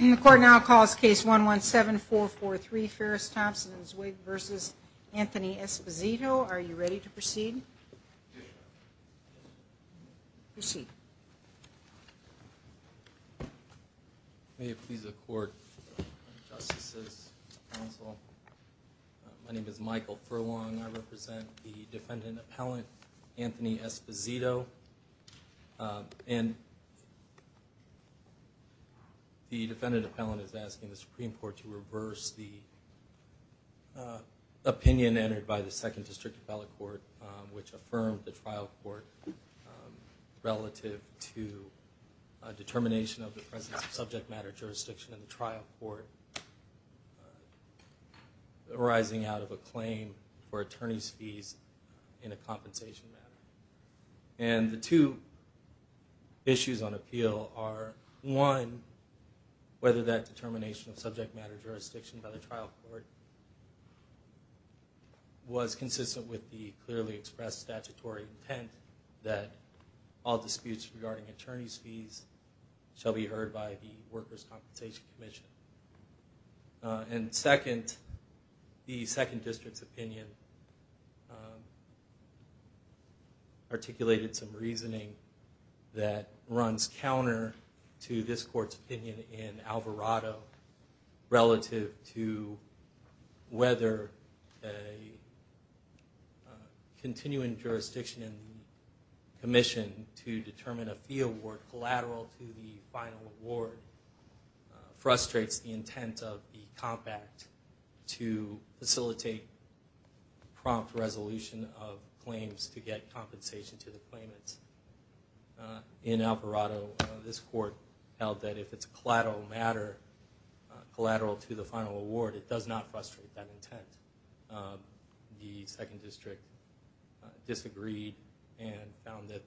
The court now calls case 117443 Ferris, Thompson and Zweig v. Anthony Esposito. Are you ready to proceed? Proceed. May it please the court, justices, counsel. My name is Michael Furlong. I represent the defendant appellant Anthony Esposito. And the defendant appellant is asking the Supreme Court to reverse the opinion entered by the 2nd District Appellate Court, which affirmed the trial court relative to a determination of the presence of subject matter jurisdiction in the trial court arising out of a claim for attorney's fees in a compensation matter. And the two issues on appeal are, one, whether that determination of subject matter jurisdiction by the trial court was consistent with the clearly expressed statutory intent that all disputes regarding attorney's fees shall be heard by the Workers' Compensation Commission. And second, the 2nd District's opinion articulated some reasoning that runs counter to this court's opinion in Alvarado relative to whether a continuing jurisdiction in the commission to determine a fee award collateral to the final award frustrates the intent of the Comp Act to facilitate prompt resolution of claims to get compensation to the claimants. In Alvarado, this court held that if it's collateral to the final award, it does not frustrate that intent. The 2nd District disagreed and found that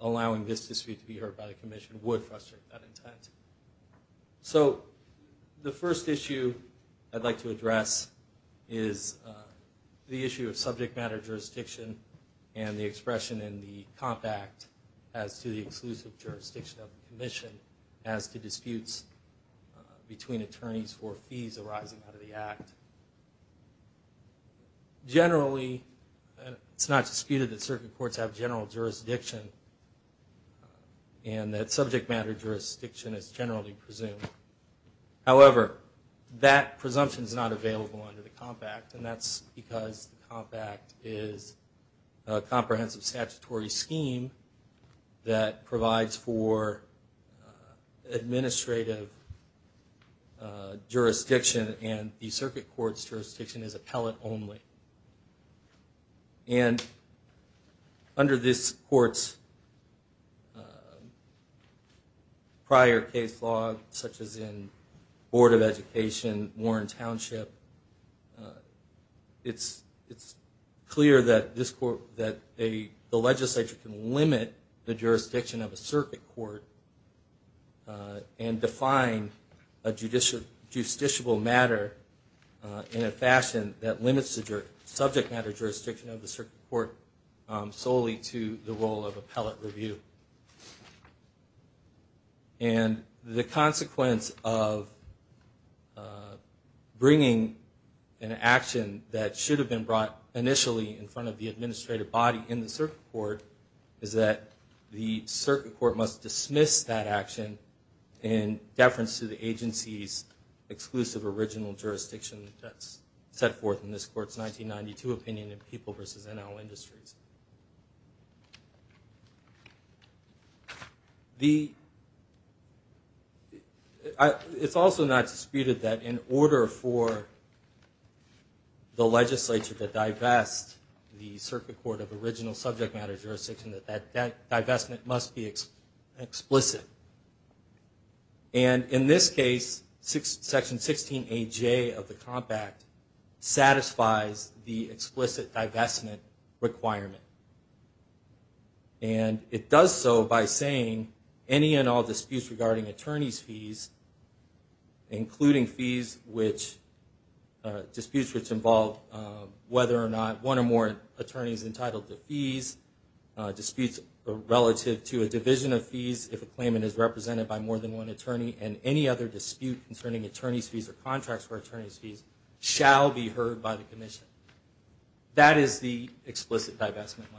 allowing this dispute to be heard by the commission would frustrate that intent. So the first issue I'd like to address is the issue of subject matter jurisdiction and the expression in the Comp Act as to the exclusive jurisdiction of the commission as to disputes between attorneys for fees arising out of the Act. Generally, it's not disputed that certain courts have general jurisdiction and that subject matter jurisdiction is generally presumed. However, that presumption is not available under the Comp Act, and that's because the Comp Act is a comprehensive statutory scheme that provides for administrative jurisdiction and the circuit court's jurisdiction is appellate only. And under this court's prior case law, such as in Board of Education, Warren Township, it's clear that the legislature can limit the jurisdiction of a circuit court and define a justiciable matter in a fashion that limits the subject matter jurisdiction of the circuit court solely to the role of appellate review. And the consequence of bringing an action that should have been brought initially in front of the administrative body in the circuit court is that the circuit court must dismiss that action in deference to the agency's exclusive original jurisdiction that's set forth in this court's 1992 opinion in People v. NL Industries. It's also not disputed that in order for the legislature to divest the circuit court of original subject matter jurisdiction, that that divestment must be explicit. And in this case, Section 16AJ of the Comp Act satisfies the explicit divestment requirement. And it does so by saying any and all disputes regarding attorney's fees, including disputes which involve whether or not one or more attorney is entitled to fees, disputes relative to a division of fees if a claimant is represented by more than one attorney, and any other dispute concerning attorney's fees or contracts for attorney's fees shall be heard by the commission. That is the explicit divestment language.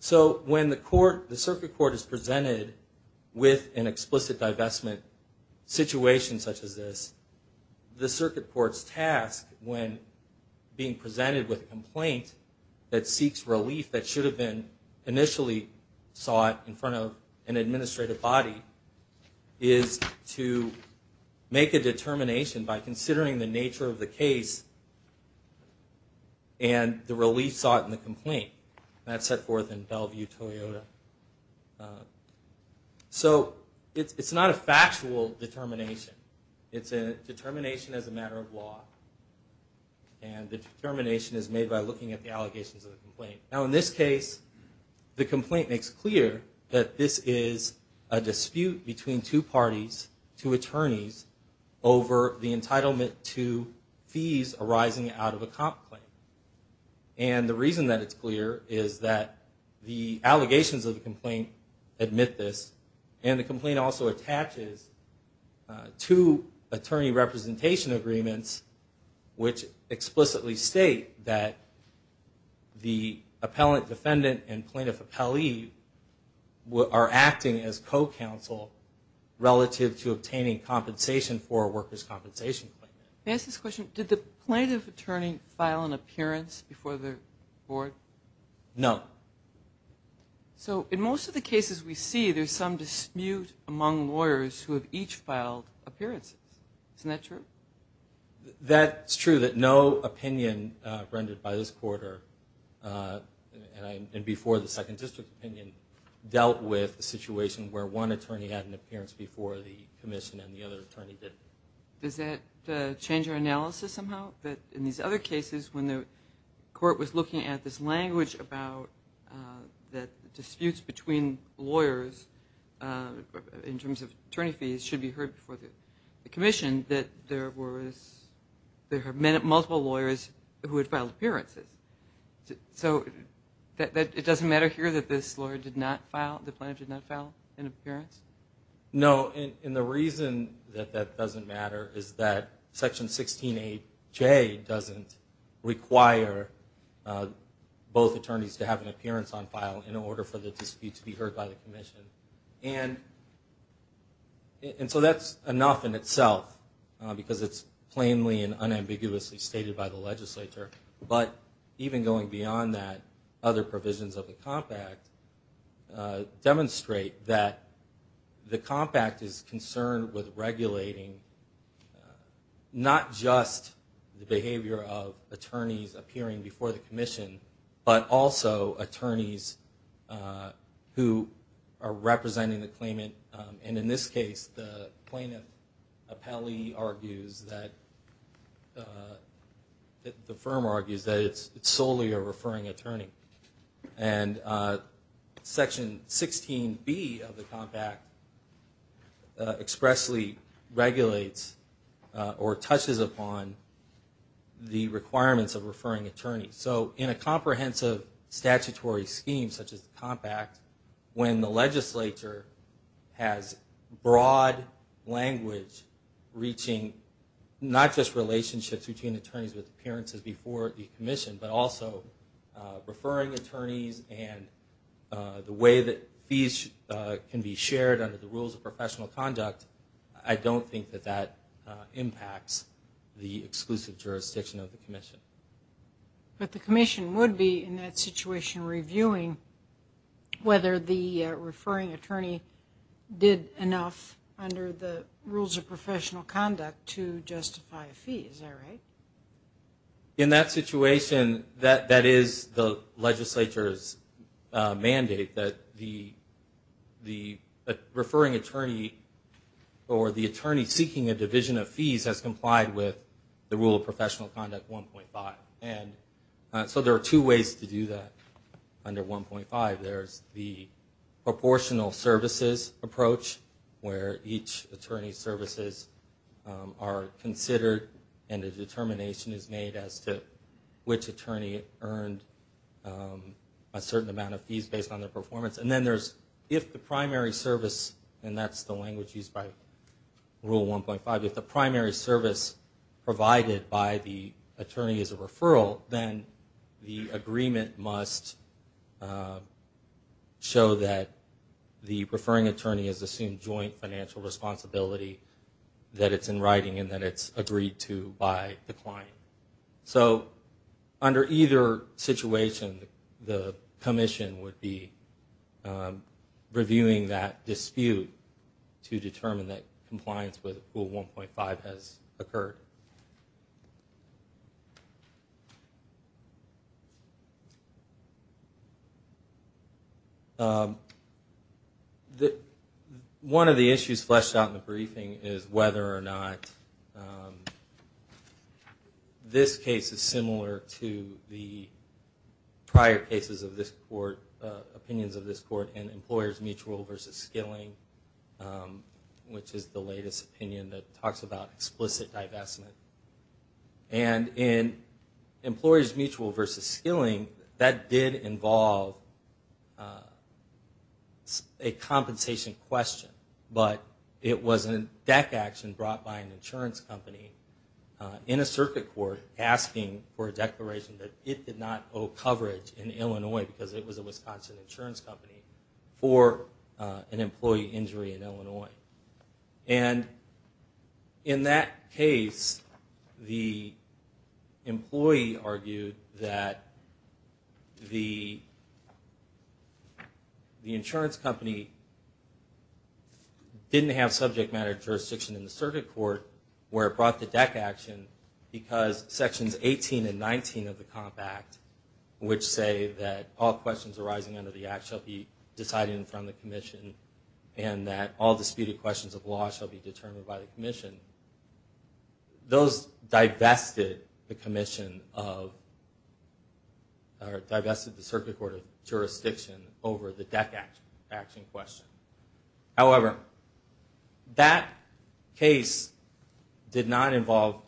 So when the circuit court is presented with an explicit divestment situation such as this, the circuit court's task when being presented with a complaint that seeks relief that should have been initially sought in front of an administrative body is to make a determination by considering the nature of the case and the relief sought in the complaint. That's set forth in Bellevue-Toyota. So it's not a factual determination. It's a determination as a matter of law. And the determination is made by looking at the allegations of the complaint. Now in this case, the complaint makes clear that this is a dispute between two parties, two attorneys, over the entitlement to fees arising out of a comp claim. And the reason that it's clear is that the allegations of the complaint admit this, and the complaint also attaches two attorney representation agreements which explicitly state that the appellant defendant and plaintiff appellee are acting as co-counsel relative to obtaining compensation for a worker's compensation claim. Can I ask this question? Did the plaintiff attorney file an appearance before the court? No. So in most of the cases we see, there's some dispute among lawyers who have each filed appearances. Isn't that true? That's true. So that no opinion rendered by this court, and before the second district opinion, dealt with the situation where one attorney had an appearance before the commission and the other attorney didn't. Does that change your analysis somehow? That in these other cases, when the court was looking at this language about disputes between lawyers in terms of attorney fees should be heard before the commission, that there were multiple lawyers who had filed appearances. So it doesn't matter here that this lawyer did not file, the plaintiff did not file an appearance? No, and the reason that that doesn't matter is that Section 16A.J. doesn't require both attorneys to have an appearance on file in order for the dispute to be heard by the commission. And so that's enough in itself, because it's plainly and unambiguously stated by the legislature. But even going beyond that, other provisions of the Comp Act demonstrate that the Comp Act is concerned with regulating not just the behavior of attorneys appearing before the commission, but also attorneys who are representing the claimant. And in this case, the plaintiff appellee argues that, the firm argues that it's solely a referring attorney. And Section 16B of the Comp Act expressly regulates or touches upon the requirements of referring attorneys. So in a comprehensive statutory scheme such as the Comp Act, when the legislature has broad language reaching not just relationships between attorneys with appearances before the commission, but also referring attorneys and the way that fees can be shared under the rules of professional conduct, I don't think that that impacts the exclusive jurisdiction of the commission. But the commission would be, in that situation, reviewing whether the referring attorney did enough under the rules of professional conduct to justify a fee, is that right? In that situation, that is the legislature's mandate, that the referring attorney or the attorney seeking a division of fees has complied with the rule of professional conduct 1.5. And so there are two ways to do that under 1.5. There's the proportional services approach, where each attorney's services are considered and a determination is made as to which attorney earned a certain amount of fees based on their performance. And then there's, if the primary service, and that's the language used by Rule 1.5, if the primary service provided by the attorney is a referral, then the agreement must show that the referring attorney has assumed joint financial responsibility that it's in writing and that it's agreed to by the client. So under either situation, the commission would be reviewing that dispute to determine that compliance with Rule 1.5 has occurred. One of the issues fleshed out in the briefing is whether or not this case is similar to the prior cases of this court, opinions of this court in Employers Mutual v. Skilling, which is the latest opinion that talks about explicit divestment. And in Employers Mutual v. Skilling, that did involve a compensation question, but it was a DEC action brought by an insurance company in a circuit court asking for a declaration that it did not owe coverage in Illinois because it was a Wisconsin insurance company for an employee injury in Illinois. And in that case, the employee argued that the insurance company didn't have subject matter jurisdiction in the circuit court where it brought the DEC action because Sections 18 and 19 of the Comp Act which say that all questions arising under the Act shall be decided in front of the commission and that all disputed questions of law shall be determined by the commission. Those divested the circuit court of jurisdiction over the DEC action question. However, that case did not involve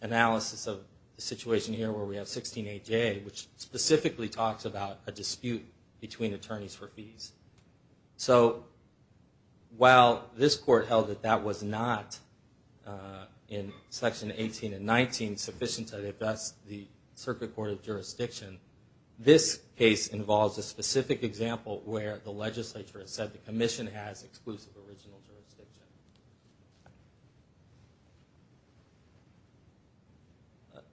analysis of the situation here where we have 16AJ which specifically talks about a dispute between attorneys for fees. So while this court held that that was not in Section 18 and 19 sufficient to divest the circuit court of jurisdiction, this case involves a specific example where the legislature has said the commission has exclusive original jurisdiction.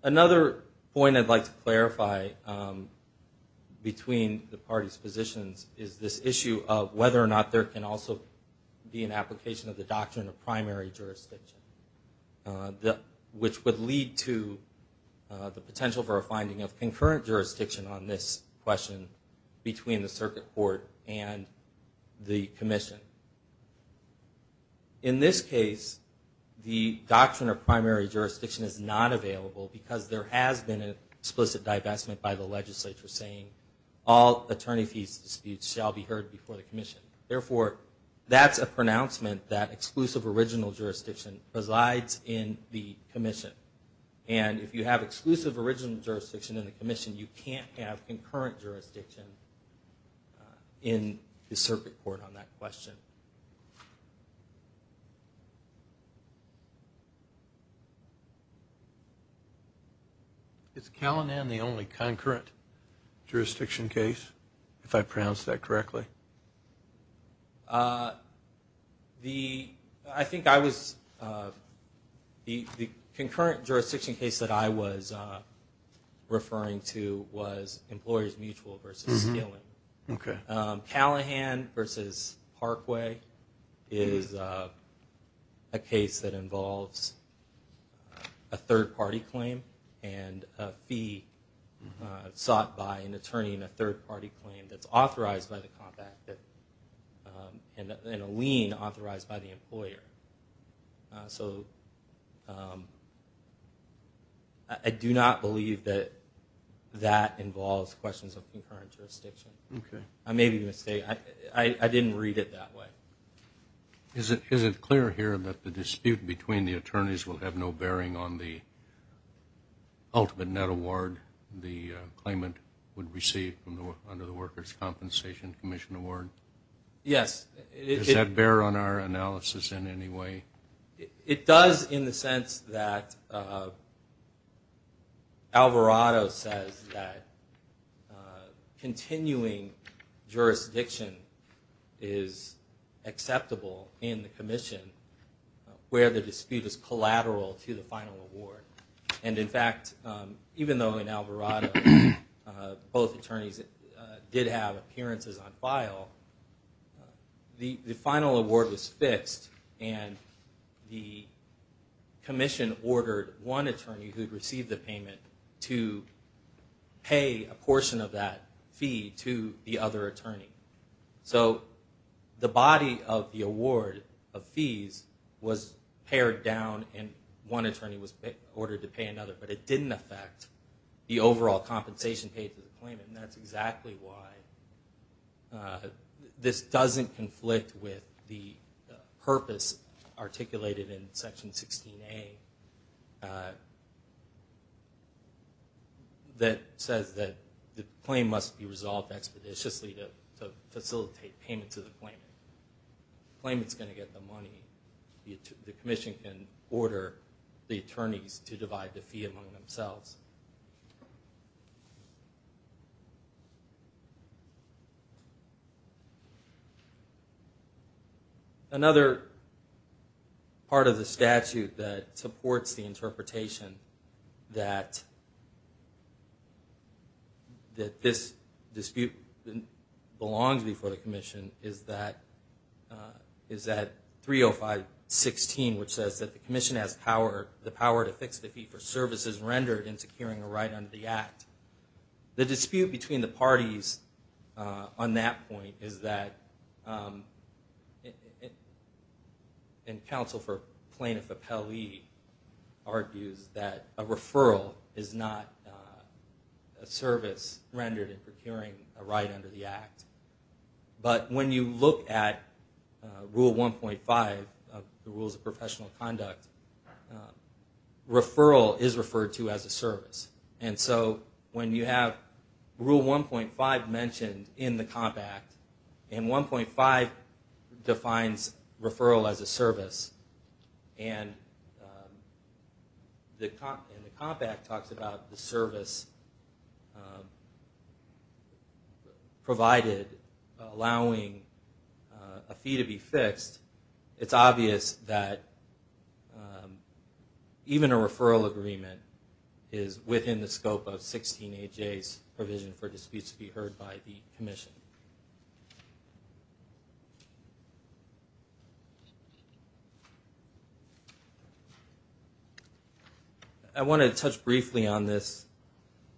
Another point I'd like to clarify between the parties' positions is this issue of whether or not there can also be an application of the Doctrine of Primary Jurisdiction which would lead to the potential for a finding of concurrent jurisdiction on this question between the circuit court and the commission. In this case, the Doctrine of Primary Jurisdiction is not available because there has been an explicit divestment by the legislature saying all attorney fees disputes shall be heard before the commission. Therefore, that's a pronouncement that exclusive original jurisdiction resides in the commission. And if you have exclusive original jurisdiction in the commission, you can't have a divestment. Is Callahan the only concurrent jurisdiction case, if I pronounced that correctly? I think I was, the concurrent jurisdiction case that I was referring to was Employees Mutual versus Steele. Callahan versus Parkway is a case that involves a third-party claim and a fee sought by an attorney in a third-party claim that's authorized by the compact and a lien authorized by the employer. I do not believe that that involves questions of concurrent jurisdiction. I may be mistaken. I didn't read it that way. Is it clear here that the dispute between the attorneys will have no bearing on the ultimate net award the claimant would receive under the Workers' Compensation Commission Award? Yes. Does that bear on our analysis in any way? It does in the sense that Alvarado says that continuing jurisdiction is acceptable in the commission where the dispute is collateral to the final award. And in fact, even though in Alvarado both attorneys did have appearances on file, the final award was fixed and the commission ordered one attorney who'd received the payment to pay a portion of that fee to the other attorney. So the body of the award of fees was pared down and one attorney was ordered to pay another. But it didn't affect the overall compensation paid to the claimant. And that's exactly why this doesn't conflict with the purpose articulated in Section 16A that says that the claim must be resolved expeditiously to facilitate payment to the claimant. The claimant's going to get the money. The commission can order the attorneys to divide the fee among themselves. Another part of the statute that supports the interpretation that this dispute belongs before the commission is that 305.16 which says that the commission has the power to fix the fee for services rendered in securing a right under the Act. The dispute between the parties on that point is that and counsel for Plaintiff Appellee argues that a referral is not a service rendered in procuring a right under the Act. But when you look at Rule 1.5 of the Rules of Professional Conduct referral is referred to as a service. And so when you have Rule 1.5 mentioned in the Comp Act and 1.5 defines referral as a service and the Comp Act talks about the service provided allowing a fee to be fixed it's obvious that even a referral agreement is within the scope of 16.8.J's provision for disputes to be heard by the commission. I want to touch briefly on this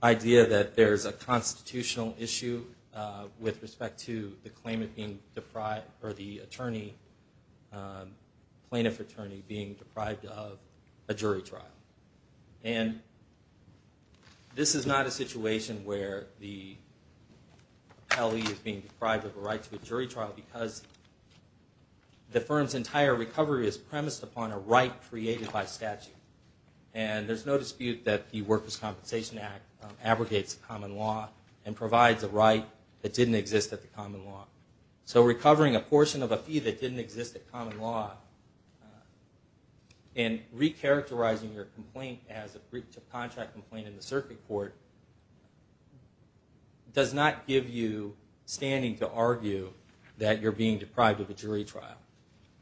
idea that there's a constitutional issue with respect to the claimant being deprived or the attorney plaintiff attorney being deprived of a jury trial. And this is not a situation where the appellee is being deprived of a right to a jury trial because the firm's entire recovery is premised upon a right created by statute. And there's no dispute that the Workers' Compensation Act abrogates common law and provides a right that didn't exist at the common law. So recovering a portion of a fee that didn't exist at common law and recharacterizing your complaint as a breach of contract complaint in the circuit court does not give you standing to argue that you're being deprived of a jury trial.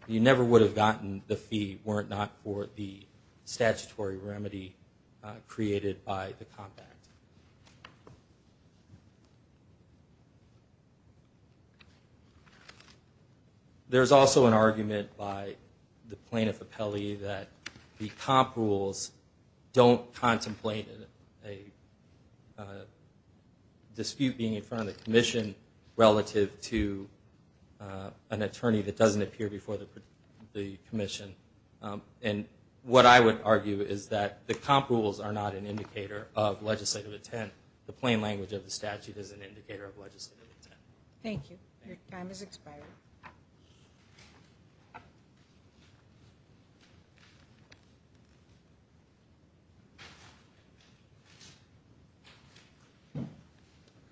You never would have gotten the fee were it not for the statutory remedy created by the Comp Act. There's also an argument by the plaintiff appellee that the Comp Rules don't contemplate a dispute being in front of the commission relative to an attorney that doesn't appear before the commission. And what I would argue is that the Comp Rules are not an indicator of legislative intent. The plain language of the statute is an indicator of legislative intent. Thank you. Your time has expired.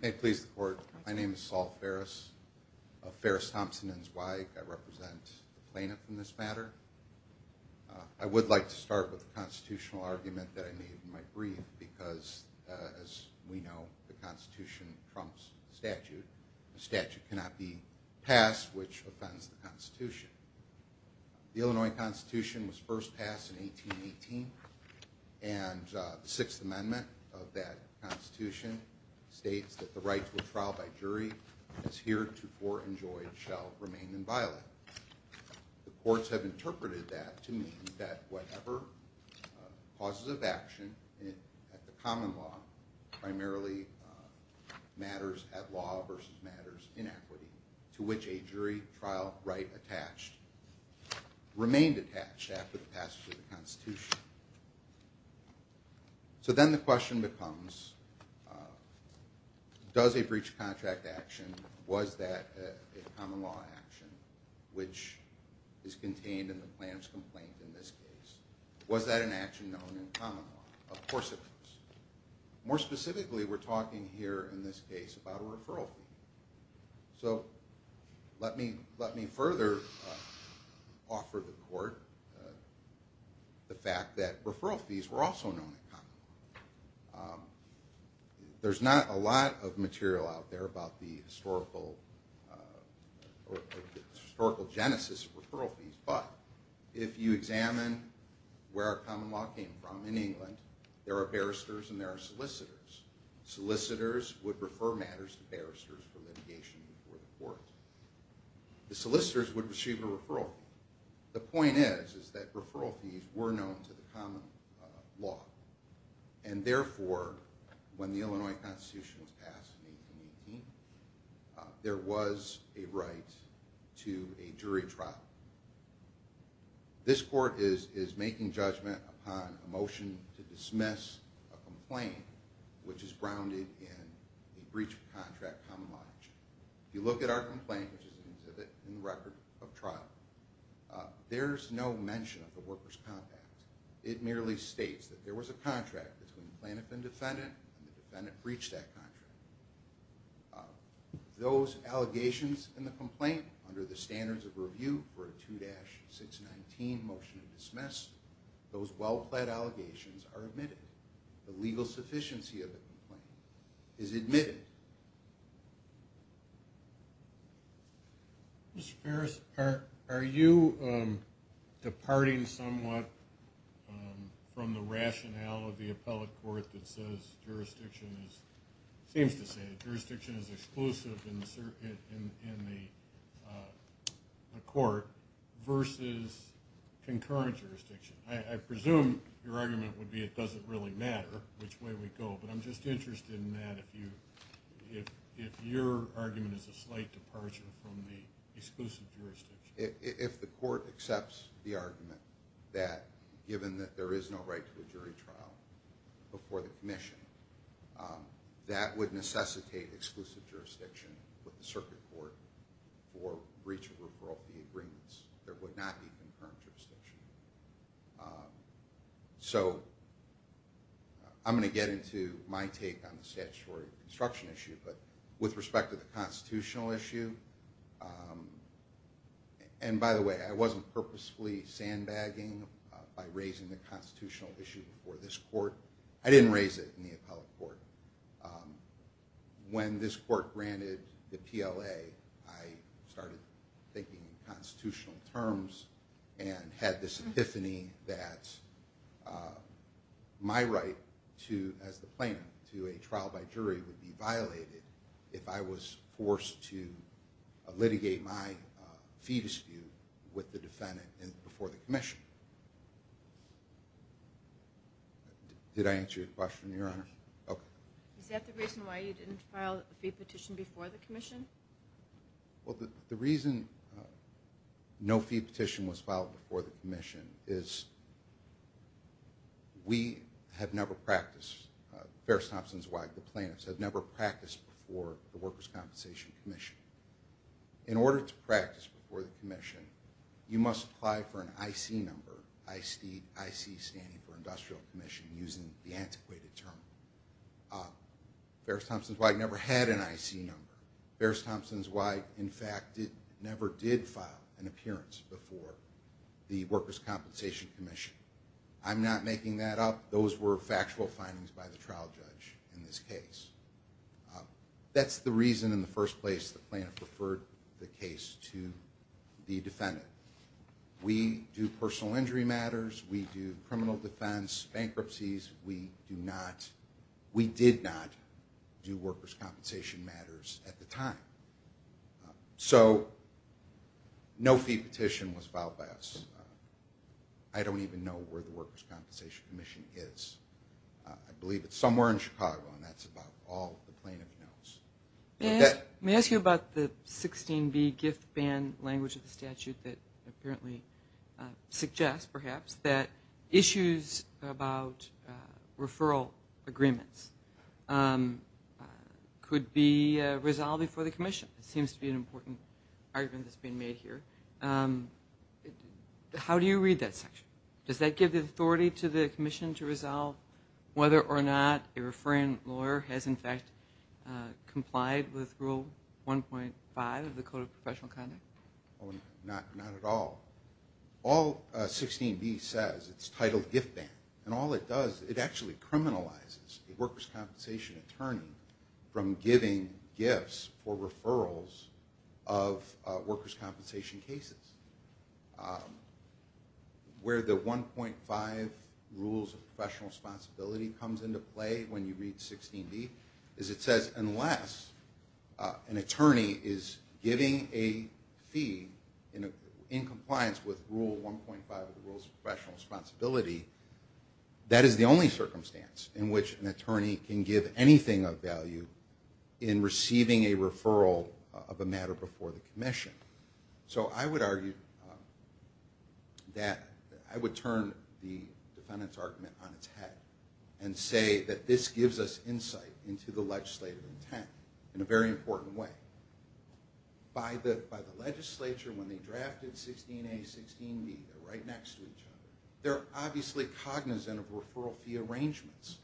May it please the Court. My name is Saul Ferris Ferris Thompson and his wife. I represent the plaintiff in this matter. I would like to start with the constitutional argument that I made in my brief because as we know the Constitution trumps the statute. The statute cannot be passed which offends the Constitution. The Illinois Constitution was first passed in 1818 and the Sixth Amendment of that Constitution states that the right to a trial by jury as heretofore enjoyed shall remain inviolate. The courts have interpreted that to mean that whatever causes of action at the common law primarily matters at law versus matters in equity to which a jury trial right remained attached after the passage of the Constitution. So then the question becomes does a breach of contract action was that a common law action which is contained in the plaintiff's complaint in this case. Was that an action known in common law? Of course it was. More specifically we're talking here in this case about a referral fee. So let me further offer the Court the fact that referral fees were also known in common law. There's not a lot of material out there about the historical genesis of referral fees but if you examine where our common law came from in England there are barristers and there are solicitors. Solicitors would refer matters to barristers for litigation before the Court. The solicitors would receive a referral fee. The point is that referral fees were known to the common law and therefore when the Illinois Constitution was passed in 1818 there was a right to a jury trial. This Court is making judgment upon a motion to dismiss a complaint which is grounded in a breach of contract common law action. If you look at our complaint which is an exhibit in the record of trial there's no mention of the workers' compact. It merely states that there was a contract between the plaintiff and defendant and the defendant breached that contract. Those allegations in the complaint under the standards of review for a 2-619 motion to dismiss those well-planned allegations are admitted. The legal sufficiency of the complaint is admitted. Mr. Ferris, are you departing somewhat from the rationale of the Appellate Court that says jurisdiction is exclusive in the Court versus concurrent jurisdiction? I presume your argument would be it doesn't really matter which way we go but I'm just interested in that if your argument is a slight departure from the exclusive jurisdiction. If the Court accepts the argument that given that there is no right to a jury trial before the Commission that would necessitate exclusive jurisdiction with the Circuit Court for breach of the agreements. There would not be concurrent jurisdiction. I'm going to get into my take on the statutory construction issue but with respect to the constitutional issue and by the way I wasn't purposefully sandbagging by raising the constitutional issue before this Court. I didn't raise it in the Appellate Court. When this Court granted the PLA I started thinking in constitutional terms and had this epiphany that my right as the plaintiff to a trial by jury would be violated if I was forced to litigate my fee dispute with the defendant before the Commission. Did I answer your question, Your Honor? the fee petition before the Commission? The reason no fee petition was filed before the Commission is we have never practiced Ferris-Thompson's WAG, the plaintiffs have never practiced before the Workers' Compensation Commission. In order to practice before the Commission you must apply for an IC number IC standing for Industrial Commission using the antiquated term. Ferris-Thompson's WAG never had an IC number. Ferris-Thompson's WAG in fact never did file an appearance before the Workers' Compensation Commission. I'm not making that up. Those were factual findings by the trial judge in this case. That's the reason in the first place the plaintiff referred the case to the defendant. We do personal injury matters, we do criminal defense bankruptcies, we do not we did not do workers' compensation matters at the time. No fee petition was filed by us. I don't even know where the Workers' Compensation Commission is. I believe it's somewhere in Chicago and that's about all the plaintiff knows. May I ask you about the 16b GIF ban language of the statute that apparently suggests perhaps that issues about referral agreements could be resolved before the Commission. It seems to be an important argument that's being made here. How do you read that section? Does that give the authority to the Commission to resolve whether or not a referring lawyer has in fact complied with Rule 1.5 of the Code of Professional Conduct? Not at all. All 16b says, it's titled GIF ban and all it does, it actually criminalizes the workers' compensation attorney from giving gifts for referrals of workers' compensation cases. Where the 1.5 Rules of Professional Responsibility comes into play when you read 16b is it says unless an attorney is giving a fee in compliance with Rule 1.5 of the Rules of Professional Responsibility that is the only circumstance in which an attorney can give anything of value in receiving a referral of a matter before the Commission. So I would argue that I would turn the defendant's argument on its head and say that this in a very important way. By the legislature when they drafted 16a, 16b they're right next to each other. They're obviously cognizant of referral fee arrangements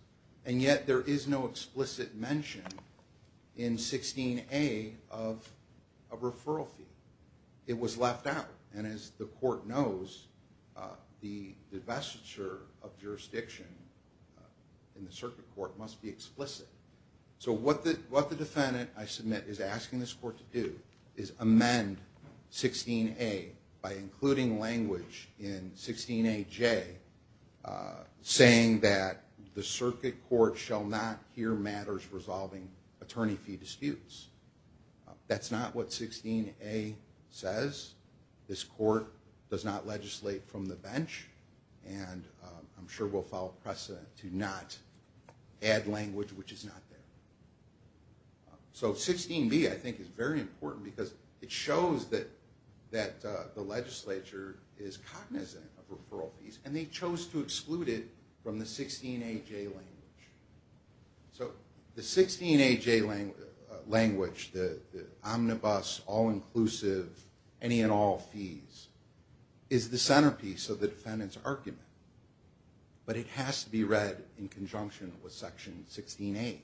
and yet there is no explicit mention in 16a of a referral fee. It was left out and as the court knows the divestiture of jurisdiction in the circuit court must be explicit. So what the defendant I submit is asking this court to do is amend 16a by including language in 16aJ saying that the circuit court shall not hear matters resolving attorney fee disputes. That's not what 16a says. This court does not legislate from the bench and I'm sure will follow precedent to not add language which is not there. So 16b I think is very important because it shows that the legislature is cognizant of referral fees and they chose to exclude it from the 16aJ language. So the 16aJ language the omnibus, all inclusive any and all fees is the centerpiece of the defendant's argument but it has to be read in conjunction with section 16a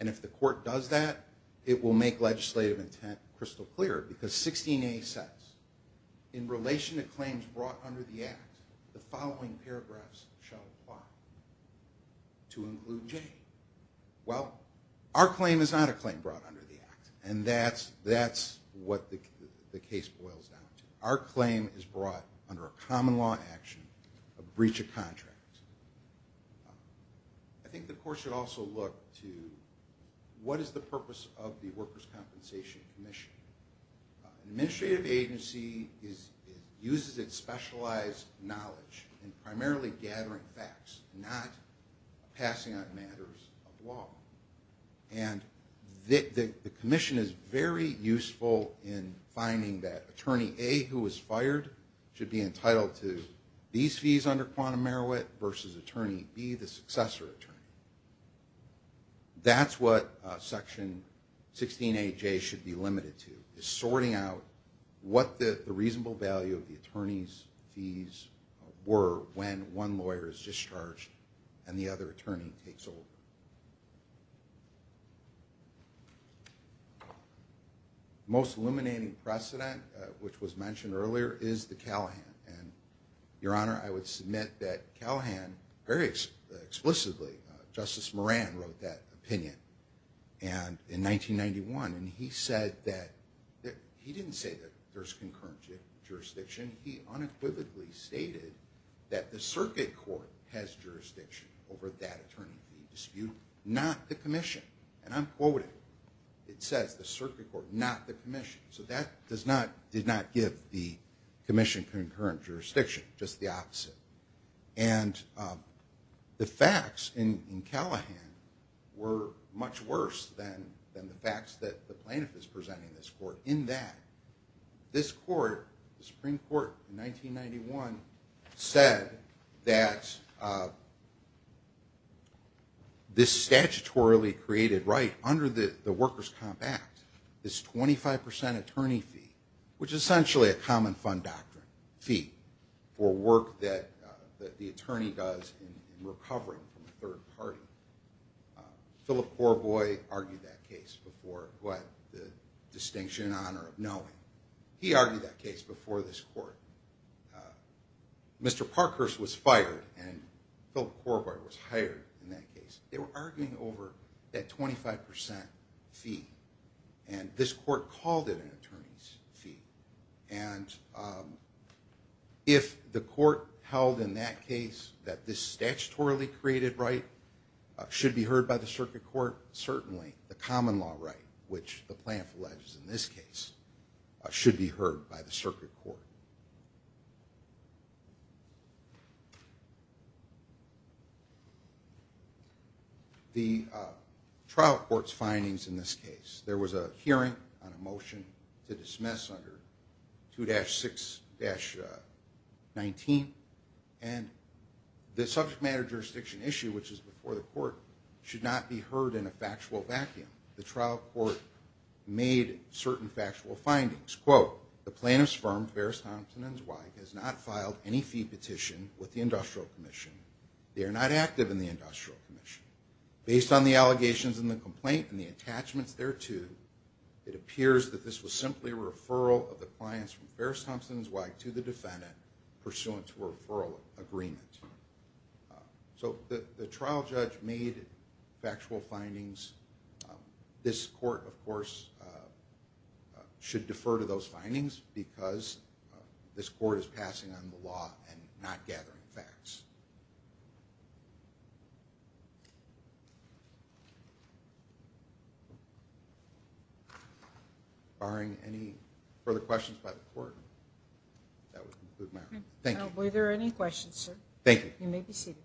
and if the court does that it will make legislative intent crystal clear because 16a says in relation to claims brought under the act the following paragraphs shall apply to include J. Well our claim is not a claim brought under the act and that's what the case boils down to. Our claim is brought under a common law action a breach of contract. I think the court should also look to what is the purpose of the workers' compensation commission. An administrative agency uses its specialized knowledge in primarily gathering facts not passing on matters of law. And the commission is very useful in finding that attorney A who was fired should be entitled to these fees under quantum merit versus attorney B the successor attorney. That's what section 16aJ should be limited to is sorting out what the reasonable value of the attorney's fees were when one lawyer is discharged and the other attorney takes over. Most illuminating precedent which was mentioned earlier is the Callahan and your honor I would submit that Callahan very explicitly Justice Moran wrote that opinion and in 1991 and he said that he didn't say that there's concurrent jurisdiction he unequivocally stated that the circuit court has jurisdiction over that not the commission and I'm quoted it says the circuit court not the commission so that did not give the commission concurrent jurisdiction just the opposite and the facts in Callahan were much worse than the facts that the plaintiff is presenting this court in that this court the Supreme Court in 1991 said that this statutorily created right under the Workers Comp Act is 25% attorney fee which is essentially a common fund doctrine fee for work that the attorney does in recovering from a third party. Philip Corboy argued that case before who had the distinction and honor of knowing. He argued that case before this court. Mr. Parkhurst was hired in that case. They were arguing over that 25% fee and this court called it an attorney's fee and if the court held in that case that this statutorily created right should be heard by the circuit court certainly the common law right which the plaintiff alleges in this case should be heard by the circuit court. The trial court's findings in this case there was a hearing on a motion to dismiss under 2-6-19 and the subject matter jurisdiction issue which is before the court should not be heard in a factual vacuum. The trial court made certain factual findings quote the plaintiff's firm Ferris Thompson & Zweig has not filed any fee petition with the industrial commission. They are not active in the industrial commission. Based on the allegations in the complaint and the attachments thereto it appears that this was simply a referral of the clients from Ferris Thompson & Zweig to the defendant pursuant to a referral agreement. So the trial judge made factual findings this court of course should defer to those findings because this court is passing on the law and not gathering facts. Barring any further questions by the court that would conclude my argument. Thank you. Were there any questions sir? Thank you. You may be seated.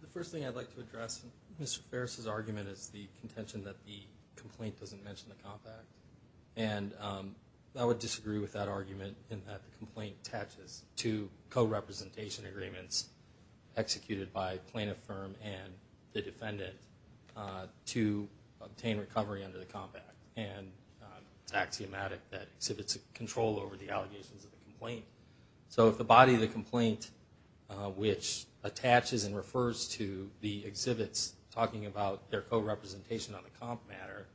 The first thing I'd like to address Mr. Ferris' argument is the contention that the complaint doesn't mention the compact and I would disagree with that argument in that the complaint attaches to co-representation agreements executed by plaintiff firm and the defendant to obtain recovery under the compact and it's axiomatic that exhibits a control over the allegations of the complaint. So if the body of the complaint which attaches and refers to the exhibits talking about their co-representation on the comp matter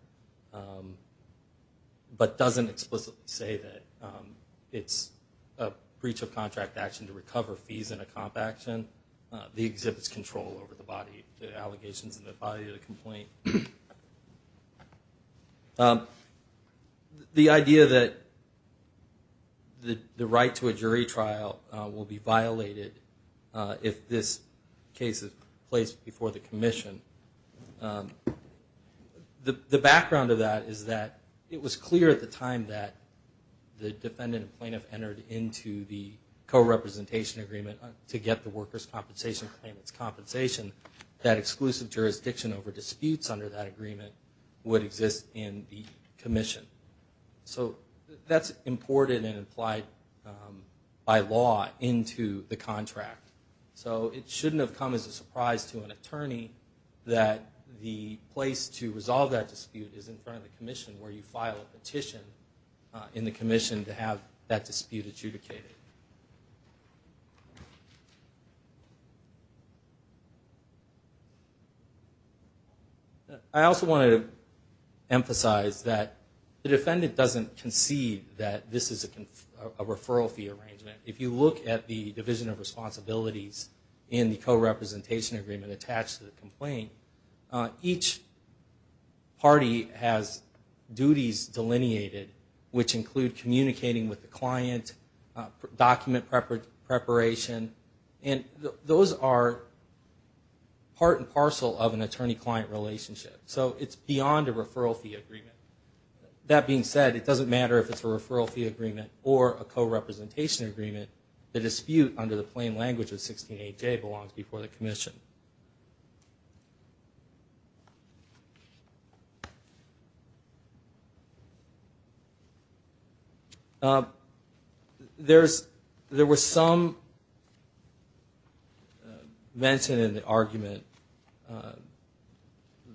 but doesn't explicitly say that it's a breach of contract action to recover fees in a comp action the exhibits control over the allegations in the body of the complaint. The idea that the right to a jury trial will be violated if this case is placed before the commission. The background of that is that it was clear at the time that the defendant and plaintiff entered into the co-representation agreement to get the workers compensation claimant's compensation that exclusive jurisdiction over disputes under that agreement would exist in the commission. So that's imported and applied by law into the contract. So it shouldn't have come as a surprise to an attorney that the place to resolve that dispute is in front of the commission where you file a petition in the commission to have that dispute adjudicated. I also wanted to emphasize that the defendant doesn't concede that this is a referral fee arrangement. If you look at the division of responsibilities in the co-representation agreement attached to the complaint has duties delineated which include communicating with the client document preparation and those are part and parcel of an attorney-client relationship. So it's beyond a referral fee agreement. That being said, it doesn't matter if it's a referral fee agreement or a co-representation agreement. The dispute under the plain language of 16AJ belongs before the commission. There was some mention in the argument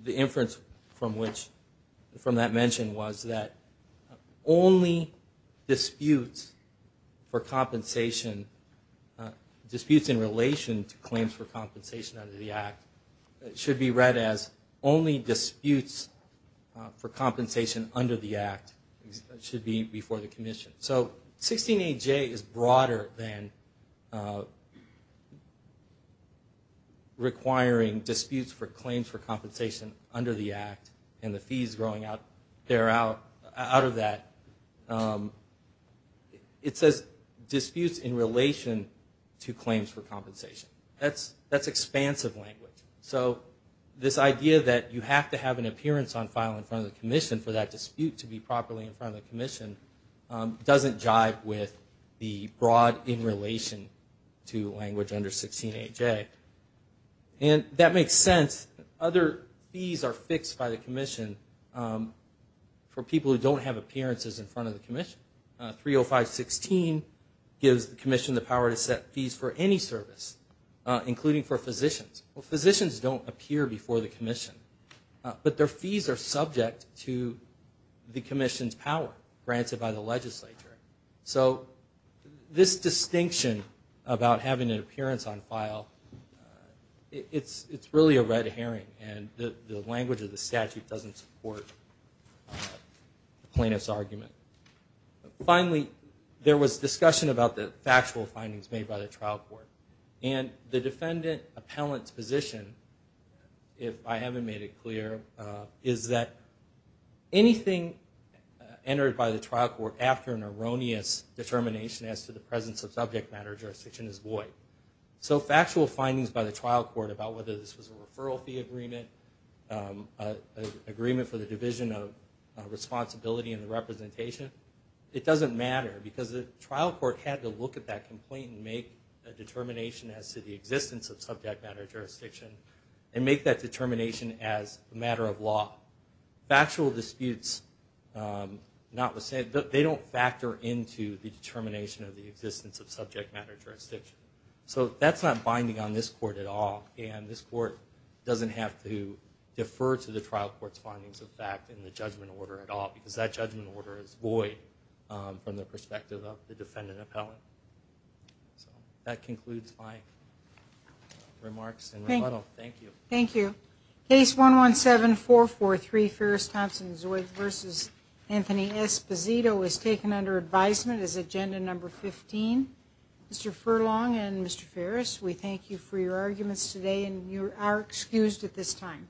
the inference from that mention was that only disputes for compensation disputes in relation to claims for compensation under the act should be read as only disputes for compensation under the act should be before the commission. So 16AJ is broader than requiring disputes for claims for compensation under the act and the fees growing out of that. It says disputes in relation to claims for compensation. That's expansive language. So this idea that you have to have an appearance on file in front of the commission for that dispute to be properly in front of the commission doesn't jive with the broad in relation to language under 16AJ. And that makes sense. Other fees are fixed by the commission for people who don't have appearances in front of the commission. 305-16 gives the commission the power to set fees for any service including for physicians. Well, physicians don't appear before the commission but their fees are subject to the commission's power granted by the legislature. So this distinction about having an appearance on file it's really a red herring and the language of the statute doesn't support plaintiff's argument. Finally, there was discussion about the factual findings made by the trial court and the defendant appellant's position if I haven't made it clear is that anything entered by the trial court after an erroneous determination as to the presence of subject matter jurisdiction is void. So factual findings by the trial court about whether this was a referral fee agreement, agreement for the division of responsibility in the representation it doesn't matter because the trial court had to look at that complaint and make a determination as to the existence of subject matter jurisdiction and make that determination as a matter of law. Factual disputes they don't factor into the determination of the existence of subject matter jurisdiction. So that's not binding on this court at all and this court doesn't have to defer to the trial court's findings of fact in the judgment order at all because that judgment order is void from the perspective of the defendant appellant. So that concludes my remarks and rebuttal. Thank you. Thank you. Case 117443 Ferris-Thompson-Zoids v. Anthony Esposito is taken under advisement as agenda number 15. Mr. Furlong and Mr. Ferris we thank you for your arguments today and you are excused at this time.